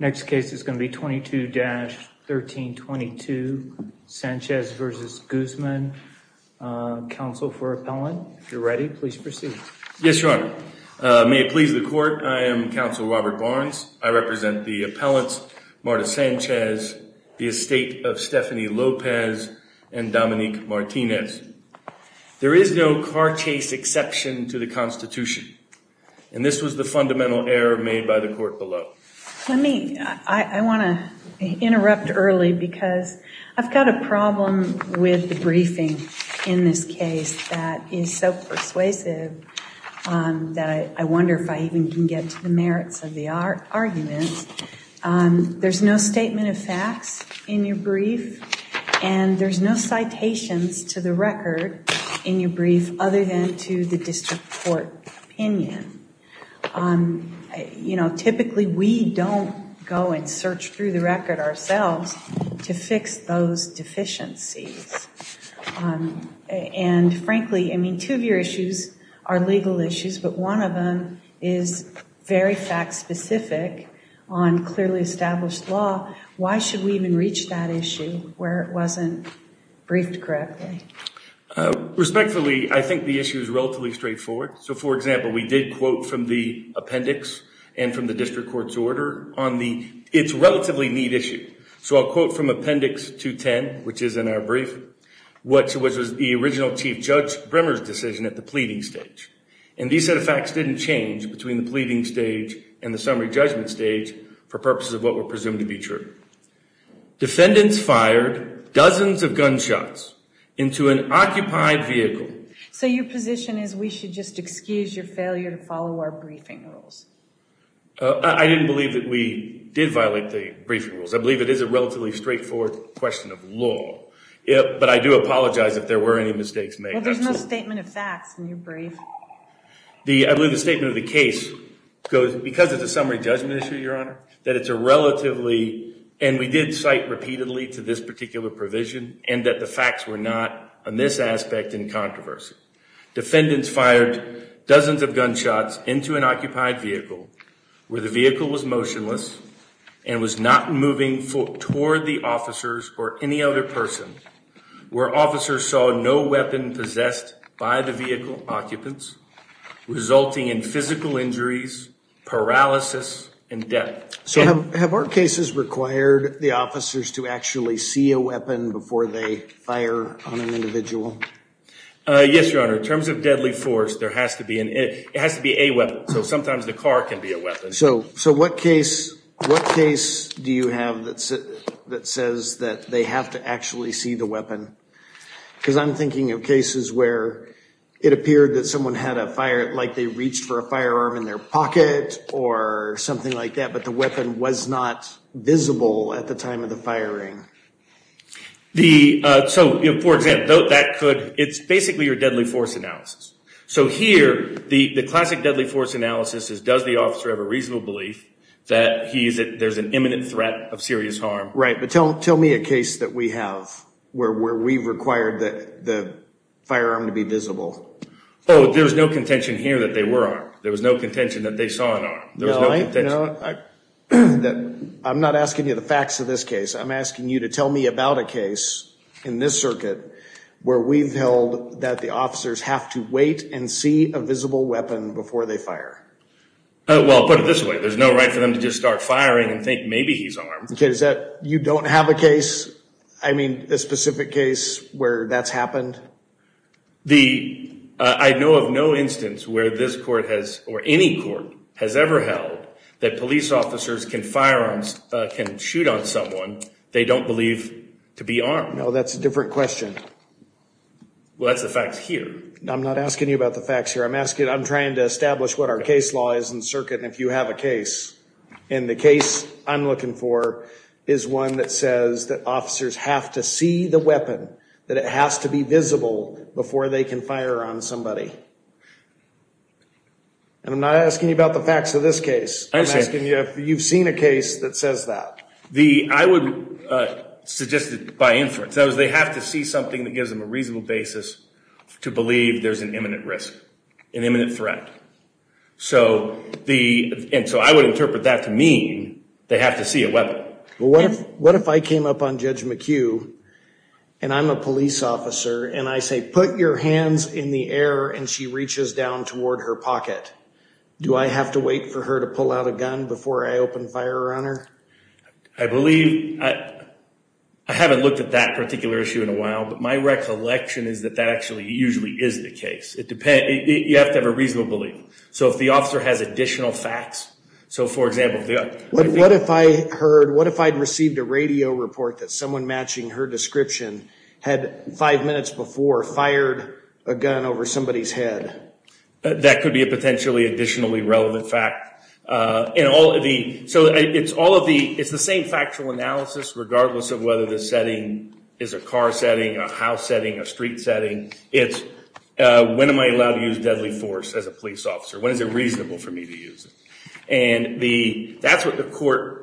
Next case is going to be 22-1322 Sanchez v. Guzman. Counsel for appellant, if you're ready, please proceed. Yes, Your Honor. May it please the Court, I am Counsel Robert Barnes. I represent the appellants Marta Sanchez, the estate of Stephanie Lopez, and Dominique Martinez. There is no car chase exception to the Constitution, and this was the fundamental error made by the Court below. Let me – I want to interrupt early because I've got a problem with the briefing in this case that is so persuasive that I wonder if I even can get to the merits of the argument. There's no statement of facts in your brief, and there's no citations to the record in your brief other than to the district court opinion. You know, typically we don't go and search through the record ourselves to fix those deficiencies. And frankly, I mean, two of your issues are legal issues, but one of them is very fact-specific on clearly established law. Why should we even reach that issue where it wasn't briefed correctly? Respectfully, I think the issue is relatively straightforward. So, for example, we did quote from the appendix and from the district court's order on the – it's a relatively neat issue. So I'll quote from appendix 210, which is in our brief, which was the original Chief Judge Brimmer's decision at the pleading stage. And these set of facts didn't change between the pleading stage and the summary judgment stage for purposes of what were presumed to be true. Defendants fired dozens of gunshots into an occupied vehicle. So your position is we should just excuse your failure to follow our briefing rules? I didn't believe that we did violate the briefing rules. I believe it is a relatively straightforward question of law. But I do apologize if there were any mistakes made. Well, there's no statement of facts in your brief. I believe the statement of the case goes – because it's a summary judgment issue, Your Honor, that it's a relatively – and we did cite repeatedly to this particular provision and that the facts were not on this aspect in controversy. Defendants fired dozens of gunshots into an occupied vehicle where the vehicle was motionless and was not moving toward the officers or any other person where officers saw no weapon possessed by the vehicle occupants, resulting in physical injuries, paralysis, and death. So have our cases required the officers to actually see a weapon before they fire on an individual? Yes, Your Honor. In terms of deadly force, there has to be – it has to be a weapon. So sometimes the car can be a weapon. So what case do you have that says that they have to actually see the weapon? Because I'm thinking of cases where it appeared that someone had a – like they reached for a firearm in their pocket or something like that, but the weapon was not visible at the time of the firing. So, for example, that could – it's basically your deadly force analysis. So here, the classic deadly force analysis is does the officer have a reasonable belief that there's an imminent threat of serious harm? Right, but tell me a case that we have where we've required the firearm to be visible. Oh, there was no contention here that they were armed. There was no contention that they saw an arm. No, I'm not asking you the facts of this case. I'm asking you to tell me about a case in this circuit where we've held that the officers have to wait and see a visible weapon before they fire. Well, put it this way. There's no right for them to just start firing and think maybe he's armed. Okay, is that – you don't have a case – I mean, a specific case where that's happened? The – I know of no instance where this court has – or any court has ever held that police officers can firearms – can shoot on someone they don't believe to be armed. No, that's a different question. Well, that's the facts here. I'm not asking you about the facts here. I'm asking – I'm trying to establish what our case law is in the circuit, and if you have a case, and the case I'm looking for is one that says that officers have to see the weapon, that it has to be visible before they can fire on somebody. And I'm not asking you about the facts of this case. I'm asking you if you've seen a case that says that. The – I would suggest it by inference. That is, they have to see something that gives them a reasonable basis to believe there's an imminent risk, an imminent threat. So the – and so I would interpret that to mean they have to see a weapon. Well, what if I came up on Judge McHugh, and I'm a police officer, and I say, put your hands in the air, and she reaches down toward her pocket? Do I have to wait for her to pull out a gun before I open fire on her? I believe – I haven't looked at that particular issue in a while, but my recollection is that that actually usually is the case. It depends – you have to have a reasonable belief. So if the officer has additional facts, so for example – What if I heard – what if I had received a radio report that someone matching her description had five minutes before fired a gun over somebody's head? That could be a potentially additionally relevant fact. In all of the – so it's all of the – it's the same factual analysis regardless of whether the setting is a car setting, a house setting, a street setting. It's when am I allowed to use deadly force as a police officer? When is it reasonable for me to use it? And the – that's what the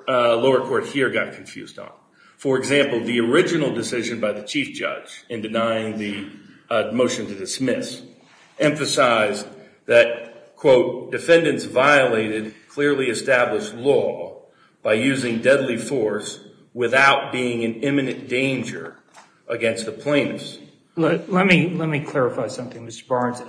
lower court here got confused on. For example, the original decision by the chief judge in denying the motion to dismiss emphasized that, quote, defendants violated clearly established law by using deadly force without being in imminent danger against the plaintiffs. Let me clarify something, Mr. Barnes.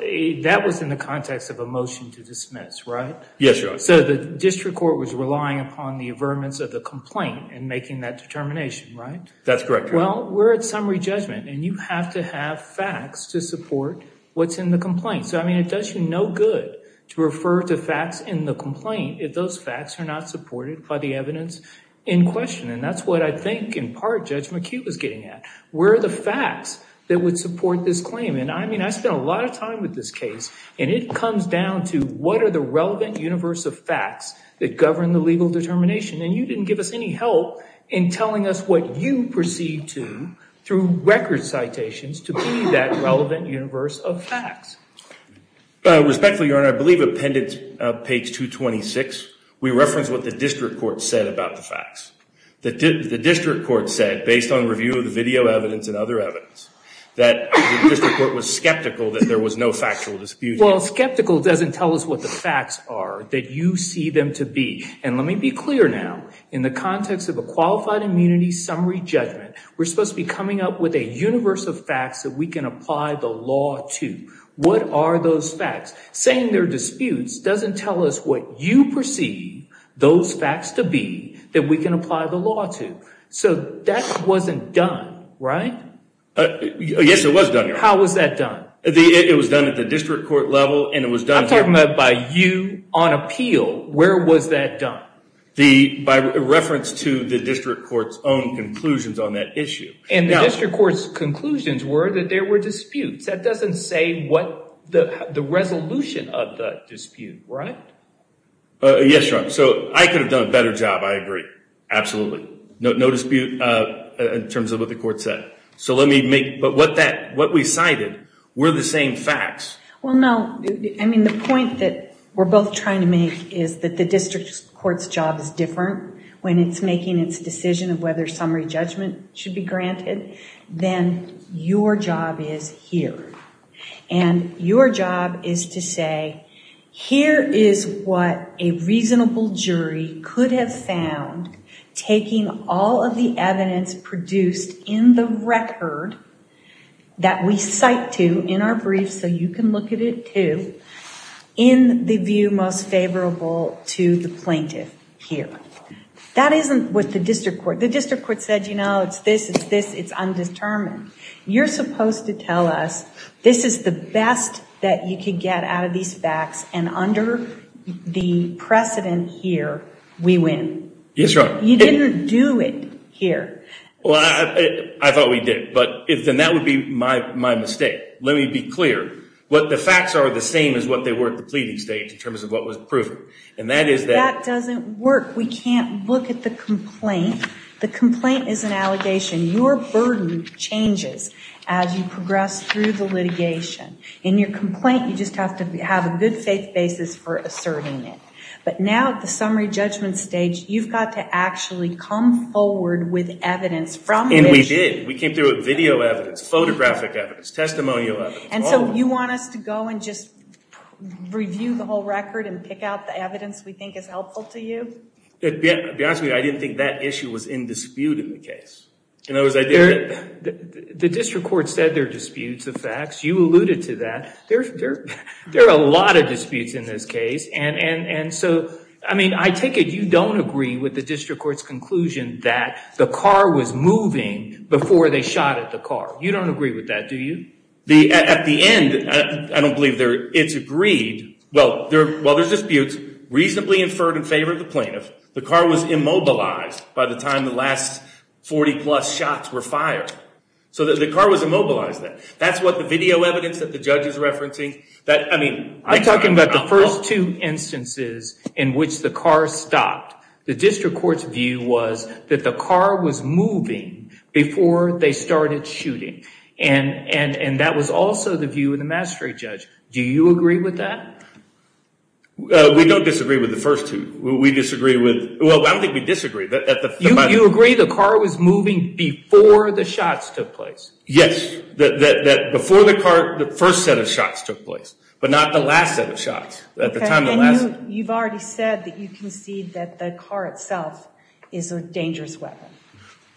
That was in the context of a motion to dismiss, right? Yes, Your Honor. So the district court was relying upon the affirmance of the complaint in making that determination, right? That's correct, Your Honor. Well, we're at summary judgment, and you have to have facts to support what's in the complaint. So, I mean, it does you no good to refer to facts in the complaint if those facts are not supported by the evidence in question. And that's what I think in part Judge McHugh was getting at. Where are the facts that would support this claim? And, I mean, I spent a lot of time with this case, and it comes down to what are the relevant universe of facts that govern the legal determination. And you didn't give us any help in telling us what you proceed to through record citations to be that relevant universe of facts. Respectfully, Your Honor, I believe appendix page 226, we reference what the district court said about the facts. The district court said, based on review of the video evidence and other evidence, that the district court was skeptical that there was no factual dispute. Well, skeptical doesn't tell us what the facts are that you see them to be. And let me be clear now. In the context of a qualified immunity summary judgment, we're supposed to be coming up with a universe of facts that we can apply the law to. What are those facts? Saying they're disputes doesn't tell us what you perceive those facts to be that we can apply the law to. So that wasn't done, right? Yes, it was done, Your Honor. How was that done? It was done at the district court level, and it was done here. I'm talking about by you on appeal. Where was that done? By reference to the district court's own conclusions on that issue. And the district court's conclusions were that there were disputes. That doesn't say what the resolution of the dispute, right? Yes, Your Honor. So I could have done a better job, I agree. Absolutely. No dispute in terms of what the court said. But what we cited were the same facts. Well, no. I mean, the point that we're both trying to make is that the district court's job is different when it's making its decision of whether summary judgment should be granted, then your job is here. And your job is to say, here is what a reasonable jury could have found, taking all of the evidence produced in the record that we cite to in our briefs, so you can look at it too, in the view most favorable to the plaintiff here. That isn't what the district court. The district court said, you know, it's this, it's this, it's undetermined. You're supposed to tell us this is the best that you can get out of these facts, and under the precedent here, we win. Yes, Your Honor. You didn't do it here. Well, I thought we did. But then that would be my mistake. Let me be clear. The facts are the same as what they were at the pleading stage in terms of what was proven. And that is that. That doesn't work. We can't look at the complaint. The complaint is an allegation. Your burden changes as you progress through the litigation. In your complaint, you just have to have a good faith basis for asserting it. But now at the summary judgment stage, you've got to actually come forward with evidence from which. And we did. We came through with video evidence, photographic evidence, testimonial evidence. And so you want us to go and just review the whole record and pick out the evidence we think is helpful to you? To be honest with you, I didn't think that issue was in dispute in the case. In other words, I didn't. The district court said there are disputes of facts. You alluded to that. There are a lot of disputes in this case. I take it you don't agree with the district court's conclusion that the car was moving before they shot at the car. You don't agree with that, do you? At the end, I don't believe it's agreed. Well, there's disputes. Reasonably inferred in favor of the plaintiff. The car was immobilized by the time the last 40-plus shots were fired. So the car was immobilized then. That's what the video evidence that the judge is referencing. I'm talking about the first two instances in which the car stopped. The district court's view was that the car was moving before they started shooting. And that was also the view of the mastery judge. Do you agree with that? We don't disagree with the first two. We disagree with, well, I don't think we disagree. You agree the car was moving before the shots took place? Yes. Before the car, the first set of shots took place. But not the last set of shots. You've already said that you concede that the car itself is a dangerous weapon.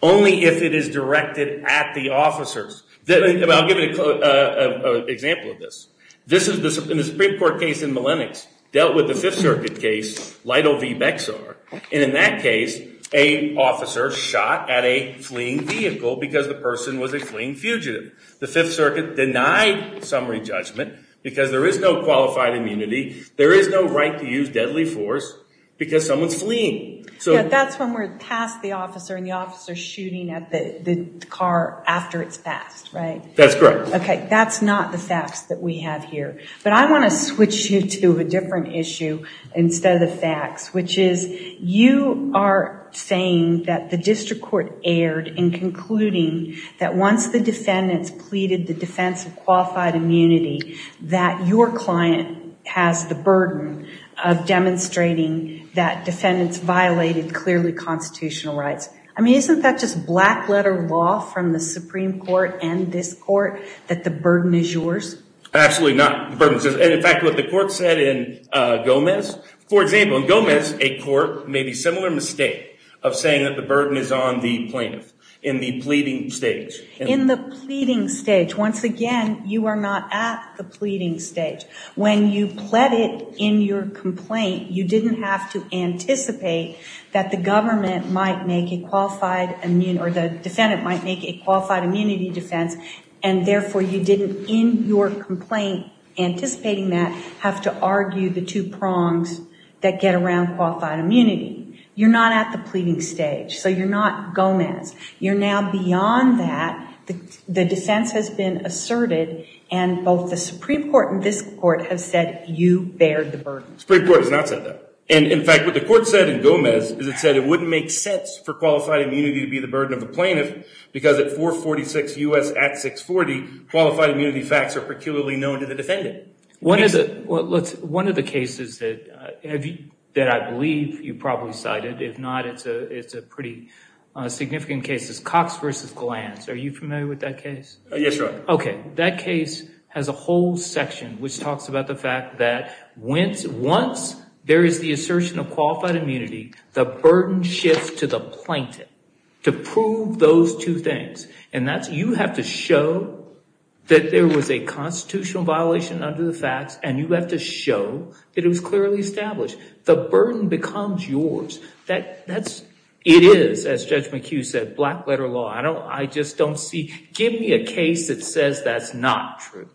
Only if it is directed at the officers. I'll give you an example of this. In the Supreme Court case in Millennics, dealt with the Fifth Circuit case, Lytle v. Bexar. And in that case, an officer shot at a fleeing vehicle because the person was a fleeing fugitive. The Fifth Circuit denied summary judgment because there is no qualified immunity. There is no right to use deadly force because someone's fleeing. Yeah, that's when we're past the officer and the officer's shooting at the car after it's passed, right? That's correct. Okay, that's not the facts that we have here. But I want to switch you to a different issue instead of the facts, which is you are saying that the district court erred in concluding that once the defendants pleaded the defense of qualified immunity, that your client has the burden of demonstrating that defendants violated clearly constitutional rights. I mean, isn't that just black-letter law from the Supreme Court and this court, that the burden is yours? Absolutely not. And in fact, what the court said in Gomez, for example, in Gomez, a court made a similar mistake of saying that the burden is on the plaintiff in the pleading stage. In the pleading stage, once again, you are not at the pleading stage. When you pleaded in your complaint, you didn't have to anticipate that the government might make a qualified immune or the defendant might make a qualified immunity defense, and therefore you didn't, in your complaint anticipating that, have to argue the two prongs that get around qualified immunity. You're not at the pleading stage, so you're not Gomez. You're now beyond that. The defense has been asserted, and both the Supreme Court and this court have said you bear the burden. The Supreme Court has not said that. And in fact, what the court said in Gomez is it said it wouldn't make sense for qualified immunity to be the burden of a plaintiff because at 446 U.S. at 640, qualified immunity facts are peculiarly known to the defendant. One of the cases that I believe you probably cited, if not, it's a pretty significant case, is Cox v. Glantz. Are you familiar with that case? Yes, Your Honor. Okay. That case has a whole section which talks about the fact that once there is the assertion of qualified immunity, the burden shifts to the plaintiff to prove those two things. And you have to show that there was a constitutional violation under the facts, and you have to show that it was clearly established. The burden becomes yours. It is, as Judge McHugh said, black-letter law. I just don't see – give me a case that says that's not true.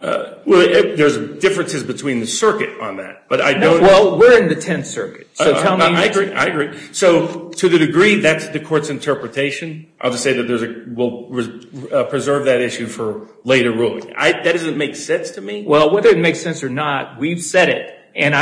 Well, there's differences between the circuit on that. Well, we're in the Tenth Circuit. I agree. So to the degree that's the court's interpretation, I'll just say that we'll preserve that issue for later ruling. That doesn't make sense to me. Well, whether it makes sense or not, we've said it. And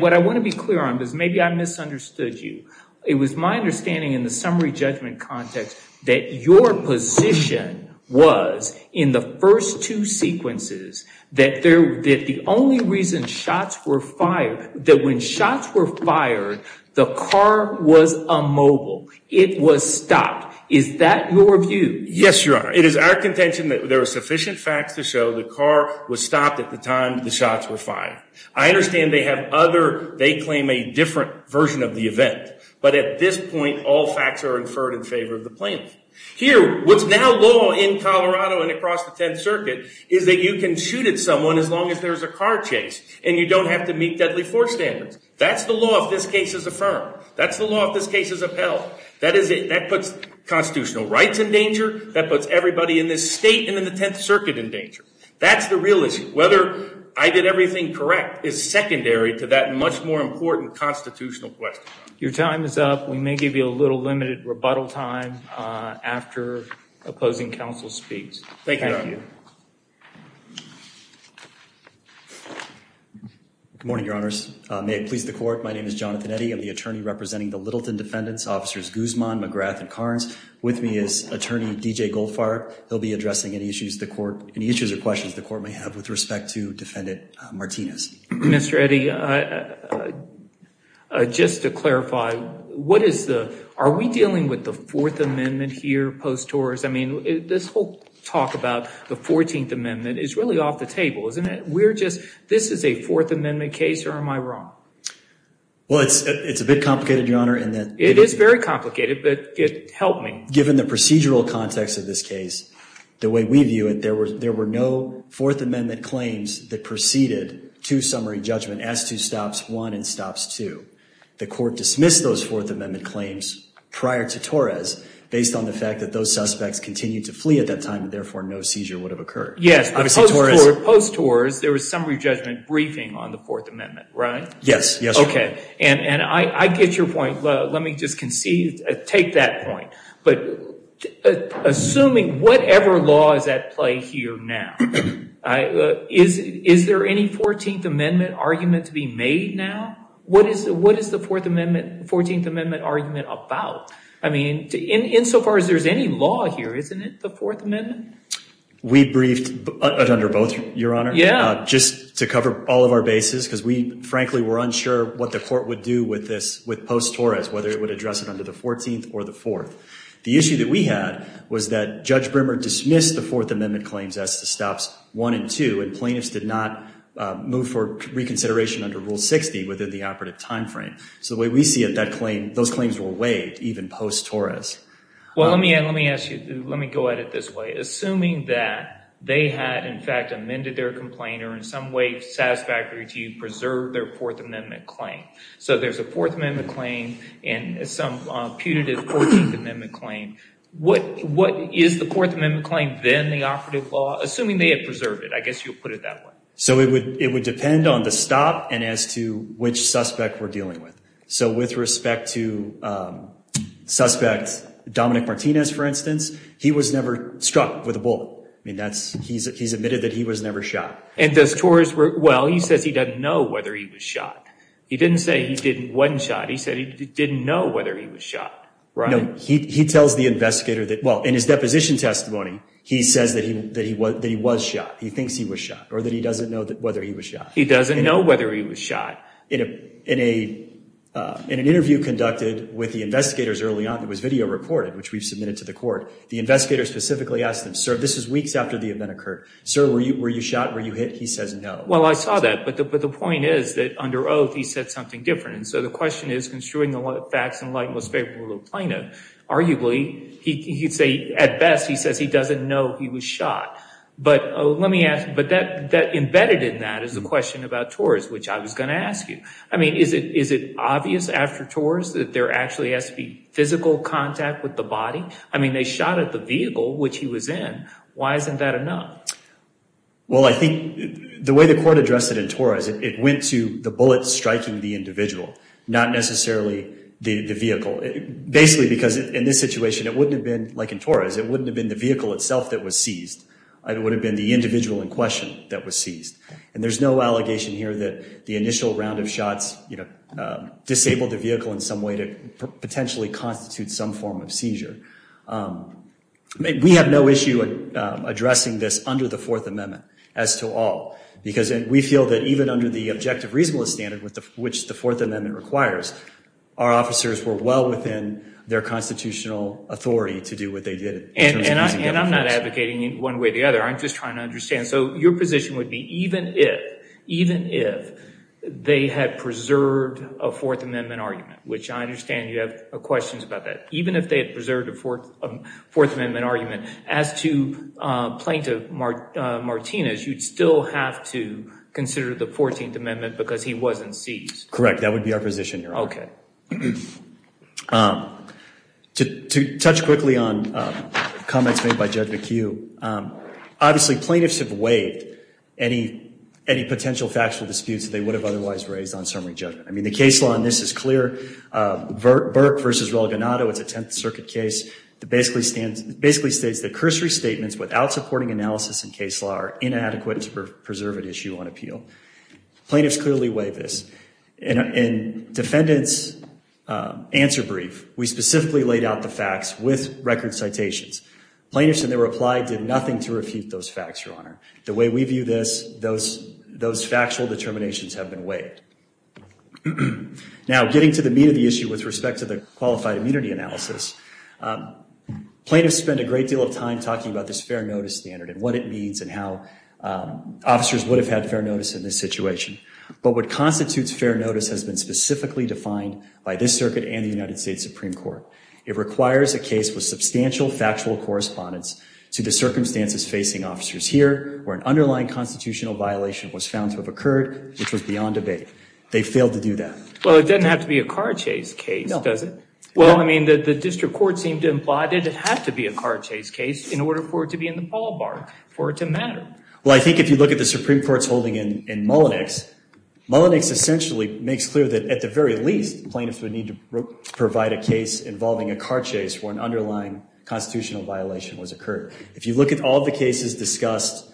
what I want to be clear on is maybe I misunderstood you. It was my understanding in the summary judgment context that your position was in the first two sequences that the only reason shots were fired, that when shots were fired, the car was immobile. It was stopped. Is that your view? Yes, Your Honor. It is our contention that there are sufficient facts to show the car was stopped at the time the shots were fired. I understand they have other – they claim a different version of the event. But at this point, all facts are inferred in favor of the plaintiff. Here, what's now law in Colorado and across the Tenth Circuit is that you can shoot at someone as long as there's a car chase and you don't have to meet deadly force standards. That's the law if this case is affirmed. That's the law if this case is upheld. That puts constitutional rights in danger. That puts everybody in this state and in the Tenth Circuit in danger. That's the real issue. Whether I did everything correct is secondary to that much more important constitutional question. Your time is up. We may give you a little limited rebuttal time after opposing counsel speaks. Thank you, Your Honor. Thank you. Good morning, Your Honors. May it please the Court, my name is Jonathan Eddy. I'm the attorney representing the Littleton defendants, Officers Guzman, McGrath, and Carnes. With me is Attorney D.J. Goldfarb. He'll be addressing any issues the Court, any issues or questions the Court may have with respect to Defendant Martinez. Mr. Eddy, just to clarify, what is the, are we dealing with the Fourth Amendment here post-Torres? I mean, this whole talk about the Fourteenth Amendment is really off the table, isn't it? We're just, this is a Fourth Amendment case or am I wrong? Well, it's a bit complicated, Your Honor. It is very complicated, but help me. Given the procedural context of this case, the way we view it, there were no Fourth Amendment claims that proceeded to summary judgment as to stops one and stops two. The Court dismissed those Fourth Amendment claims prior to Torres based on the fact that those suspects continued to flee at that time and, therefore, no seizure would have occurred. Yes, post-Torres, there was summary judgment briefing on the Fourth Amendment, right? Yes, yes, Your Honor. Okay, and I get your point. Let me just concede, take that point. But assuming whatever law is at play here now, is there any Fourteenth Amendment argument to be made now? What is the Fourteenth Amendment argument about? I mean, insofar as there's any law here, isn't it the Fourth Amendment? We briefed under both, Your Honor. Yeah. Just to cover all of our bases because we, frankly, were unsure what the Court would do with this, with post-Torres, whether it would address it under the Fourteenth or the Fourth. The issue that we had was that Judge Brimmer dismissed the Fourth Amendment claims as to stops one and two, and plaintiffs did not move for reconsideration under Rule 60 within the operative time frame. So the way we see it, those claims were waived even post-Torres. Well, let me ask you, let me go at it this way. Assuming that they had, in fact, amended their complaint or in some way satisfactory to you, preserved their Fourth Amendment claim. So there's a Fourth Amendment claim and some putative Fourteenth Amendment claim. What is the Fourth Amendment claim, then the operative law, assuming they had preserved it? I guess you'll put it that way. So it would depend on the stop and as to which suspect we're dealing with. So with respect to suspect Dominic Martinez, for instance, he was never struck with a bullet. I mean, that's, he's admitted that he was never shot. And does Torres, well, he says he doesn't know whether he was shot. He didn't say he didn't, wasn't shot. He said he didn't know whether he was shot, right? No, he tells the investigator that, well, in his deposition testimony, he says that he was shot. He thinks he was shot or that he doesn't know whether he was shot. He doesn't know whether he was shot. In an interview conducted with the investigators early on that was video recorded, which we've submitted to the court, the investigator specifically asked them, sir, this is weeks after the event occurred. Sir, were you shot? Were you hit? He says no. Well, I saw that. But the point is that under oath, he said something different. And so the question is, construing the facts in light and most favorable to the plaintiff, arguably he'd say at best he says he doesn't know he was shot. But that embedded in that is the question about Torres, which I was going to ask you. I mean, is it obvious after Torres that there actually has to be physical contact with the body? I mean, they shot at the vehicle, which he was in. Why isn't that enough? Well, I think the way the court addressed it in Torres, it went to the bullet striking the individual, not necessarily the vehicle. Basically because in this situation, it wouldn't have been like in Torres. It wouldn't have been the vehicle itself that was seized. It would have been the individual in question that was seized. And there's no allegation here that the initial round of shots, you know, disabled the vehicle in some way to potentially constitute some form of seizure. We have no issue addressing this under the Fourth Amendment as to all. Because we feel that even under the objective reasonableness standard, which the Fourth Amendment requires, our officers were well within their constitutional authority to do what they did. And I'm not advocating one way or the other. I'm just trying to understand. So your position would be even if, even if they had preserved a Fourth Amendment argument, which I understand you have questions about that, even if they had preserved a Fourth Amendment argument, as to Plaintiff Martinez, you'd still have to consider the 14th Amendment because he wasn't seized. Correct. That would be our position here. Okay. To touch quickly on comments made by Judge McHugh, obviously plaintiffs have waived any potential factual disputes that they would have otherwise raised on summary judgment. I mean, the case law on this is clear. Burke v. Relganado, it's a Tenth Circuit case that basically states that cursory statements without supporting analysis in case law are inadequate to preserve an issue on appeal. Plaintiffs clearly waive this. In defendant's answer brief, we specifically laid out the facts with record citations. Plaintiffs, in their reply, did nothing to refute those facts, Your Honor. The way we view this, those factual determinations have been waived. Now, getting to the meat of the issue with respect to the qualified immunity analysis, plaintiffs spend a great deal of time talking about this fair notice standard and what it means and how officers would have had fair notice in this situation. But what constitutes fair notice has been specifically defined by this circuit and the United States Supreme Court. It requires a case with substantial factual correspondence to the circumstances facing officers here where an underlying constitutional violation was found to have occurred, which was beyond debate. They failed to do that. Well, it doesn't have to be a car chase case, does it? Well, I mean, the district court seemed to imply it didn't have to be a car chase case in order for it to be in the ballpark, for it to matter. Well, I think if you look at the Supreme Court's holding in Mullinex, Mullinex essentially makes clear that at the very least, plaintiffs would need to provide a case involving a car chase where an underlying constitutional violation was occurred. If you look at all the cases discussed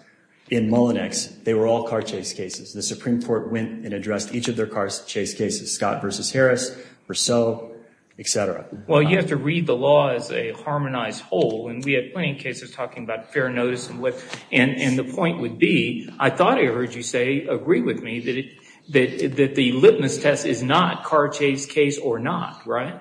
in Mullinex, they were all car chase cases. The Supreme Court went and addressed each of their car chase cases, Scott v. Harris, Purcell, et cetera. Well, you have to read the law as a harmonized whole, and we had plenty of cases talking about fair notice. And the point would be, I thought I heard you say, agree with me, that the litmus test is not car chase case or not, right?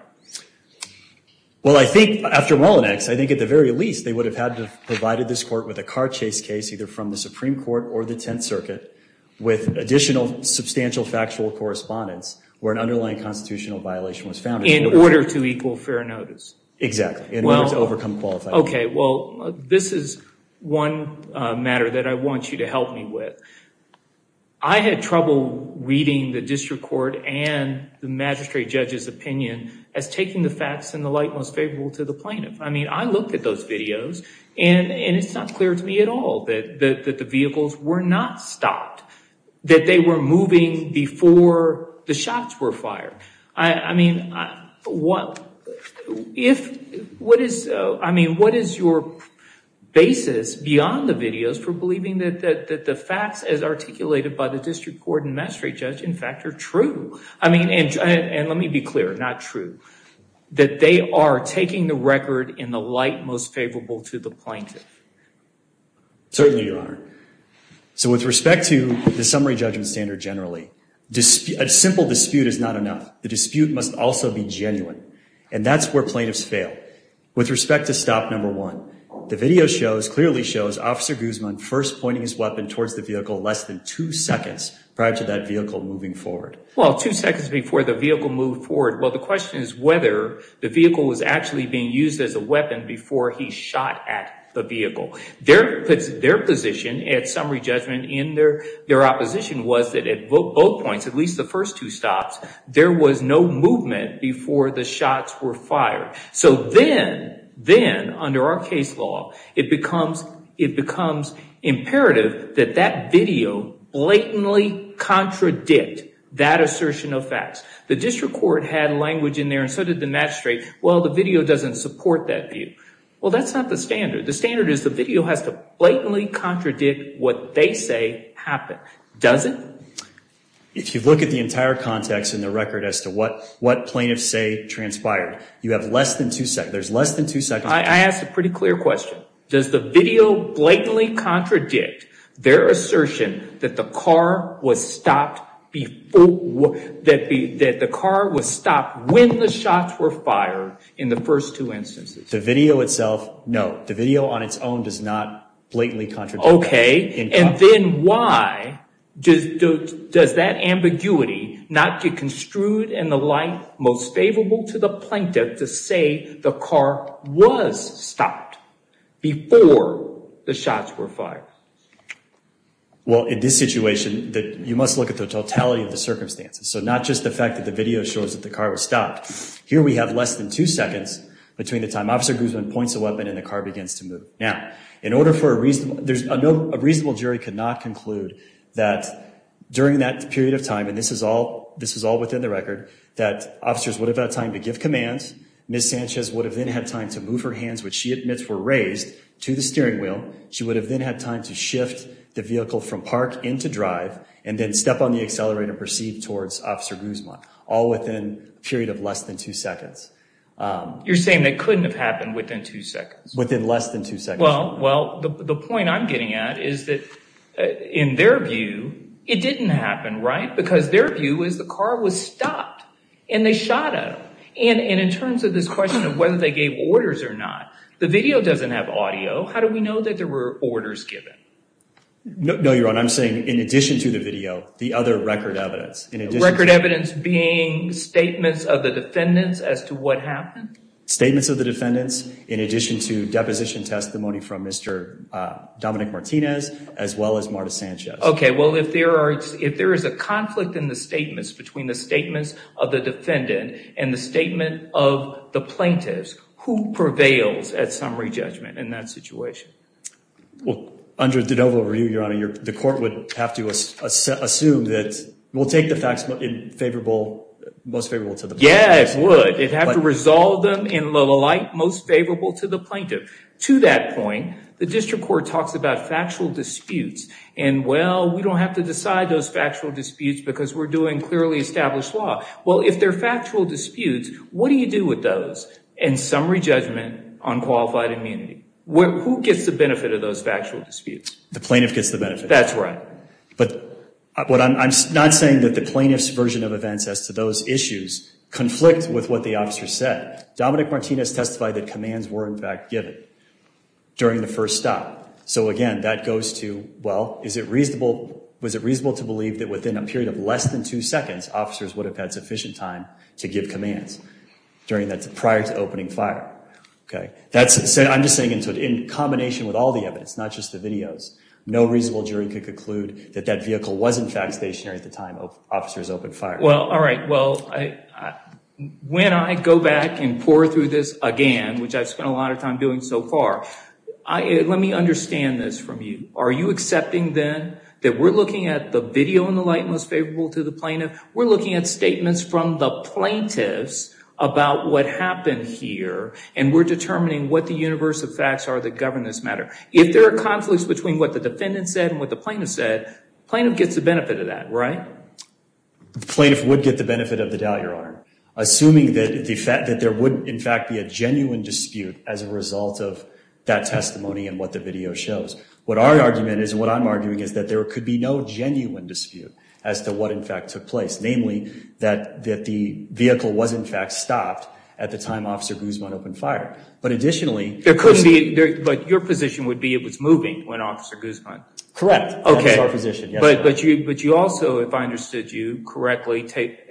Well, I think after Mullinex, I think at the very least, they would have had to have provided this court with a car chase case either from the Supreme Court or the Tenth Circuit with additional substantial factual correspondence where an underlying constitutional violation was found. In order to equal fair notice. Exactly, in order to overcome qualifiability. Okay, well, this is one matter that I want you to help me with. I had trouble reading the district court and the magistrate judge's opinion as taking the facts in the light most favorable to the plaintiff. I mean, I looked at those videos, and it's not clear to me at all that the vehicles were not stopped, that they were moving before the shots were fired. I mean, what is your basis beyond the videos for believing that the facts as articulated by the district court and magistrate judge, in fact, are true? I mean, and let me be clear, not true. That they are taking the record in the light most favorable to the plaintiff. Certainly, Your Honor. So with respect to the summary judgment standard generally, a simple dispute is not enough. The dispute must also be genuine, and that's where plaintiffs fail. With respect to stop number one, the video shows, clearly shows, Officer Guzman first pointing his weapon towards the vehicle less than two seconds prior to that vehicle moving forward. Well, two seconds before the vehicle moved forward. Well, the question is whether the vehicle was actually being used as a weapon before he shot at the vehicle. Their position at summary judgment in their opposition was that at both points, at least the first two stops, there was no movement before the shots were fired. So then, then, under our case law, it becomes imperative that that video blatantly contradict that assertion of facts. The district court had language in there, and so did the magistrate. Well, the video doesn't support that view. Well, that's not the standard. The standard is the video has to blatantly contradict what they say happened. Does it? If you look at the entire context in the record as to what plaintiffs say transpired, you have less than two seconds. There's less than two seconds. I asked a pretty clear question. Does the video blatantly contradict their assertion that the car was stopped when the shots were fired in the first two instances? The video itself, no. The video on its own does not blatantly contradict that. Okay. And then why does that ambiguity not get construed in the light most favorable to the plaintiff to say the car was stopped before the shots were fired? Well, in this situation, you must look at the totality of the circumstances, so not just the fact that the video shows that the car was stopped. Here we have less than two seconds between the time Officer Guzman points a weapon and the car begins to move. Now, a reasonable jury could not conclude that during that period of time, and this is all within the record, that officers would have had time to give commands, Ms. Sanchez would have then had time to move her hands, which she admits were raised, to the steering wheel. She would have then had time to shift the vehicle from park into drive and then step on the accelerator and proceed towards Officer Guzman, all within a period of less than two seconds. You're saying that couldn't have happened within two seconds? Within less than two seconds. Well, the point I'm getting at is that, in their view, it didn't happen, right? Because their view is the car was stopped and they shot at him. And in terms of this question of whether they gave orders or not, the video doesn't have audio. How do we know that there were orders given? No, Your Honor, I'm saying in addition to the video, the other record evidence. Record evidence being statements of the defendants as to what happened? Statements of the defendants, in addition to deposition testimony from Mr. Dominic Martinez, as well as Marta Sanchez. Okay, well, if there is a conflict in the statements, between the statements of the defendant and the statement of the plaintiffs, who prevails at summary judgment in that situation? Well, under de novo review, Your Honor, the court would have to assume that we'll take the facts most favorable to the plaintiff. Yeah, it would. It'd have to resolve them in the light most favorable to the plaintiff. To that point, the district court talks about factual disputes. And, well, we don't have to decide those factual disputes because we're doing clearly established law. Well, if they're factual disputes, what do you do with those? And summary judgment on qualified immunity. Who gets the benefit of those factual disputes? The plaintiff gets the benefit. That's right. But I'm not saying that the plaintiff's version of events as to those issues conflict with what the officer said. Dominic Martinez testified that commands were, in fact, given during the first stop. So, again, that goes to, well, is it reasonable to believe that within a period of less than two seconds, officers would have had sufficient time to give commands prior to opening fire? Okay. I'm just saying in combination with all the evidence, not just the videos, no reasonable jury could conclude that that vehicle was, in fact, stationary at the time officers opened fire. Well, all right. Well, when I go back and pour through this again, which I've spent a lot of time doing so far, let me understand this from you. Are you accepting, then, that we're looking at the video in the light most favorable to the plaintiff? We're looking at statements from the plaintiffs about what happened here, and we're determining what the universe of facts are that govern this matter. If there are conflicts between what the defendant said and what the plaintiff said, the plaintiff gets the benefit of that, right? The plaintiff would get the benefit of the doubt, Your Honor, assuming that there would, in fact, be a genuine dispute as a result of that testimony and what the video shows. What our argument is and what I'm arguing is that there could be no genuine dispute as to what, in fact, took place. Namely, that the vehicle was, in fact, stopped at the time Officer Guzman opened fire. But additionally, There couldn't be, but your position would be it was moving when Officer Guzman. Correct. Okay. That's our position, yes. But you also, if I understood you correctly,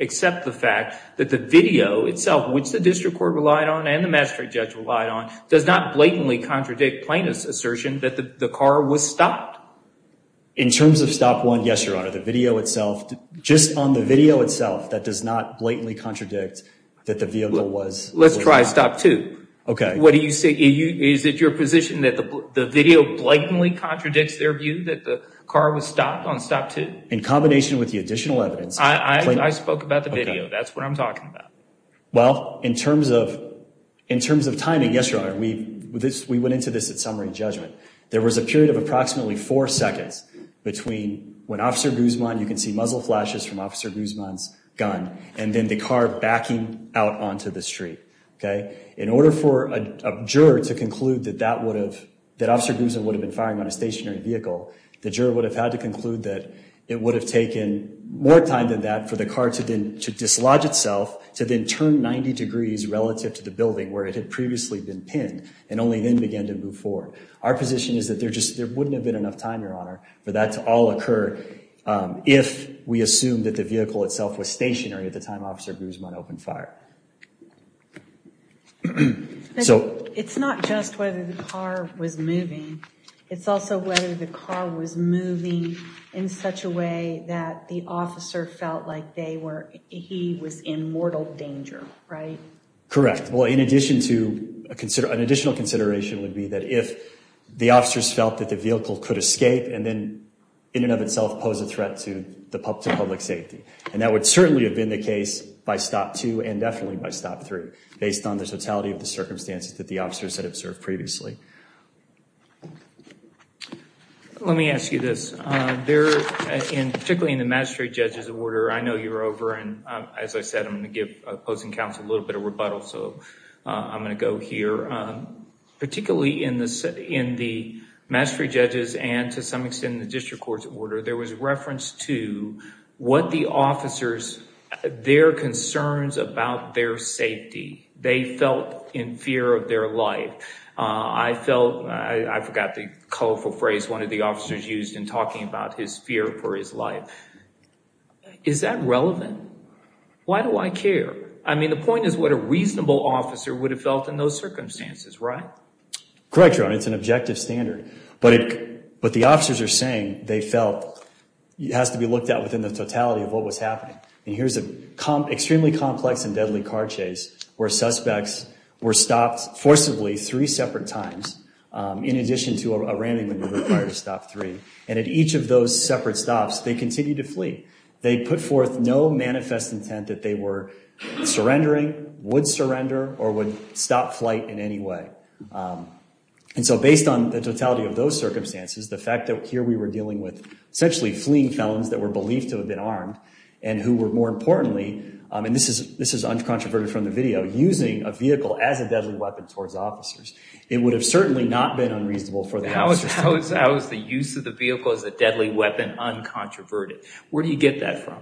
accept the fact that the video itself, which the district court relied on and the magistrate judge relied on, does not blatantly contradict plaintiff's assertion that the car was stopped. In terms of stop one, yes, Your Honor. The video itself, just on the video itself, that does not blatantly contradict that the vehicle was. Let's try stop two. Okay. What do you say? Is it your position that the video blatantly contradicts their view that the car was stopped on stop two? In combination with the additional evidence. I spoke about the video. That's what I'm talking about. Well, in terms of timing, yes, Your Honor, we went into this at summary and judgment. There was a period of approximately four seconds between when Officer Guzman, you can see muzzle flashes from Officer Guzman's gun, and then the car backing out onto the street. Okay. In order for a juror to conclude that that would have, that Officer Guzman would have been firing on a stationary vehicle, the juror would have had to conclude that it would have taken more time than that for the car to dislodge itself to then turn 90 degrees relative to the building where it had previously been pinned and only then began to move forward. Our position is that there wouldn't have been enough time, Your Honor, for that to all occur if we assumed that the vehicle itself was stationary at the time Officer Guzman opened fire. It's not just whether the car was moving. It's also whether the car was moving in such a way that the officer felt like they were, he was in mortal danger, right? Correct. Well, in addition to, an additional consideration would be that if the officers felt that the vehicle could escape and then in and of itself pose a threat to public safety. And that would certainly have been the case by Stop 2 and definitely by Stop 3 based on the totality of the circumstances that the officers had observed previously. Let me ask you this. Particularly in the magistrate judge's order, I know you're over, and as I said, I'm going to give opposing counsel a little bit of rebuttal, so I'm going to go here. Particularly in the magistrate judge's and to some extent in the district court's order, there was reference to what the officers, their concerns about their safety. They felt in fear of their life. I felt, I forgot the colorful phrase one of the officers used in talking about his fear for his life. Is that relevant? Why do I care? I mean, the point is what a reasonable officer would have felt in those circumstances, right? Correct, Your Honor, it's an objective standard. But the officers are saying they felt it has to be looked at within the totality of what was happening. And here's an extremely complex and deadly car chase where suspects were stopped forcibly three separate times in addition to a ramming maneuver prior to Stop 3. And at each of those separate stops, they continued to flee. They put forth no manifest intent that they were surrendering, would surrender, or would stop flight in any way. And so based on the totality of those circumstances, the fact that here we were dealing with essentially fleeing felons that were believed to have been armed and who were, more importantly, and this is uncontroverted from the video, using a vehicle as a deadly weapon towards officers. It would have certainly not been unreasonable for the officers. How is the use of the vehicle as a deadly weapon uncontroverted? Where do you get that from?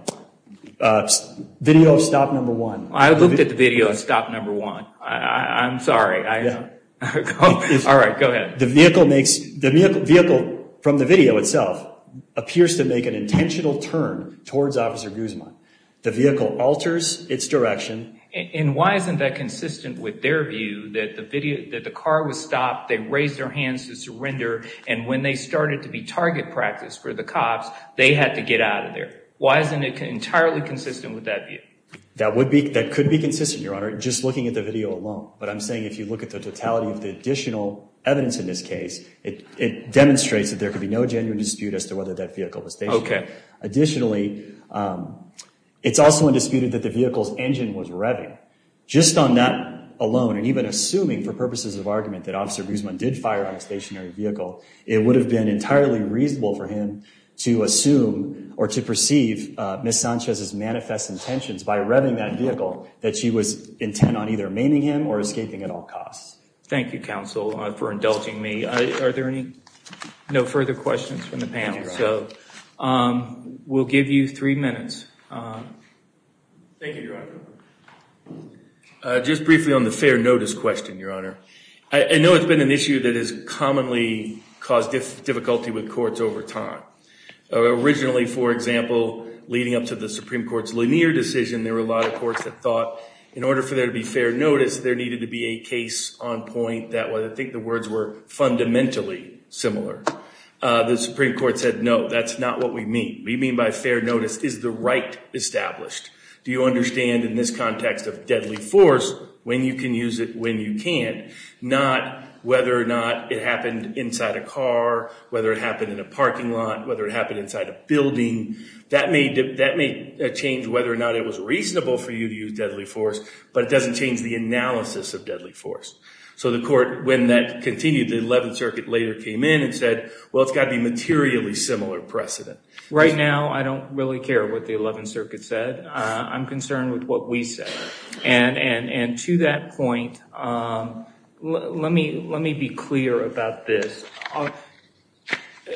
Video of Stop 1. I looked at the video of Stop 1. I'm sorry. All right, go ahead. The vehicle from the video itself appears to make an intentional turn towards Officer Guzman. The vehicle alters its direction. And why isn't that consistent with their view that the car was stopped, they raised their hands to surrender, and when they started to be target practice for the cops, they had to get out of there? Why isn't it entirely consistent with that view? That could be consistent, Your Honor, just looking at the video alone. But I'm saying if you look at the totality of the additional evidence in this case, it demonstrates that there could be no genuine dispute as to whether that vehicle was stationary. Additionally, it's also undisputed that the vehicle's engine was revving. Just on that alone, and even assuming for purposes of argument that Officer Guzman did fire on a stationary vehicle, it would have been entirely reasonable for him to assume or to perceive Ms. Sanchez's manifest intentions by revving that vehicle that she was intent on either maiming him or escaping at all costs. Thank you, counsel, for indulging me. Are there no further questions from the panel? No, Your Honor. We'll give you three minutes. Thank you, Your Honor. Just briefly on the fair notice question, Your Honor. I know it's been an issue that has commonly caused difficulty with courts over time. Originally, for example, leading up to the Supreme Court's Lanier decision, there were a lot of courts that thought in order for there to be fair notice, there needed to be a case on point that I think the words were fundamentally similar. The Supreme Court said, no, that's not what we mean. We mean by fair notice is the right established. Do you understand in this context of deadly force, when you can use it when you can't, not whether or not it happened inside a car, whether it happened in a parking lot, whether it happened inside a building. That may change whether or not it was reasonable for you to use deadly force, but it doesn't change the analysis of deadly force. So the court, when that continued, the Eleventh Circuit later came in and said, well, it's got to be materially similar precedent. Right now, I don't really care what the Eleventh Circuit said. I'm concerned with what we said. And to that point, let me be clear about this.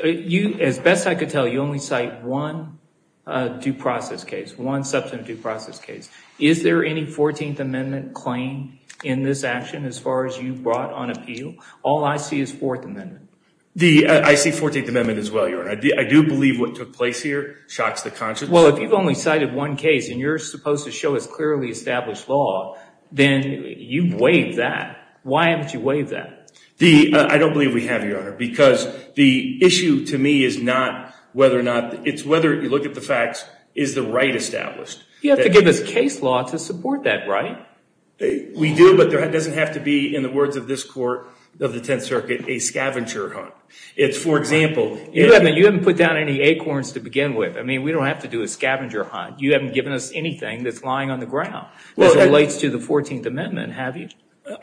As best I could tell, you only cite one due process case, one substantive due process case. Is there any Fourteenth Amendment claim in this action as far as you brought on appeal? All I see is Fourth Amendment. I see Fourteenth Amendment as well, Your Honor. I do believe what took place here shocks the conscience. Well, if you've only cited one case and you're supposed to show us clearly established law, then you've waived that. Why haven't you waived that? I don't believe we have, Your Honor, because the issue to me is not whether or not – it's whether, if you look at the facts, is the right established. You have to give us case law to support that right. We do, but it doesn't have to be, in the words of this Court of the Tenth Circuit, a scavenger hunt. It's, for example – You haven't put down any acorns to begin with. I mean, we don't have to do a scavenger hunt. You haven't given us anything that's lying on the ground as it relates to the Fourteenth Amendment, have you?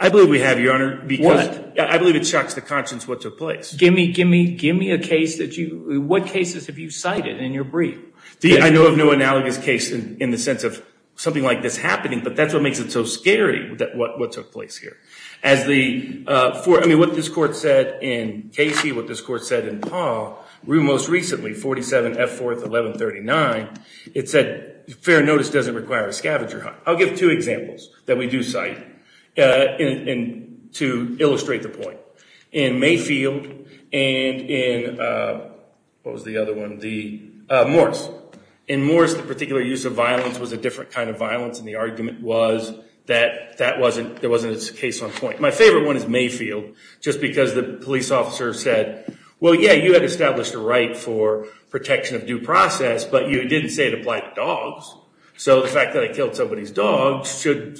I believe we have, Your Honor, because – What? I believe it shocks the conscience what took place. Give me a case that you – what cases have you cited in your brief? I know of no analogous case in the sense of something like this happening, but that's what makes it so scary, what took place here. As the – I mean, what this Court said in Casey, what this Court said in Paul, most recently, 47 F. 4th, 1139, it said fair notice doesn't require a scavenger hunt. I'll give two examples that we do cite to illustrate the point. In Mayfield and in – what was the other one? The – Morris. In Morris, the particular use of violence was a different kind of violence, and the argument was that that wasn't – there wasn't a case on point. My favorite one is Mayfield just because the police officer said, well, yeah, you had established a right for protection of due process, but you didn't say it applied to dogs. So the fact that I killed somebody's dog should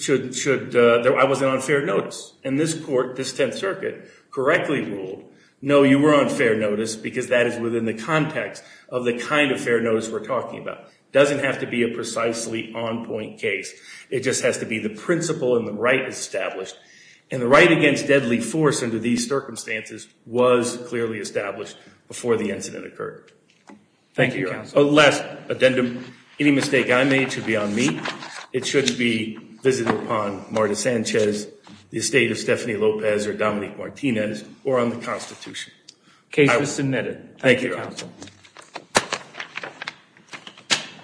– I wasn't on fair notice. And this Court, this Tenth Circuit, correctly ruled, no, you were on fair notice because that is within the context of the kind of fair notice we're talking about. It doesn't have to be a precisely on point case. It just has to be the principle and the right is established. And the right against deadly force under these circumstances was clearly established before the incident occurred. Thank you, Counsel. Last addendum. Any mistake I made should be on me. It shouldn't be visited upon Marta Sanchez, the estate of Stephanie Lopez, Case is submitted. Thank you, Counsel. Thank you.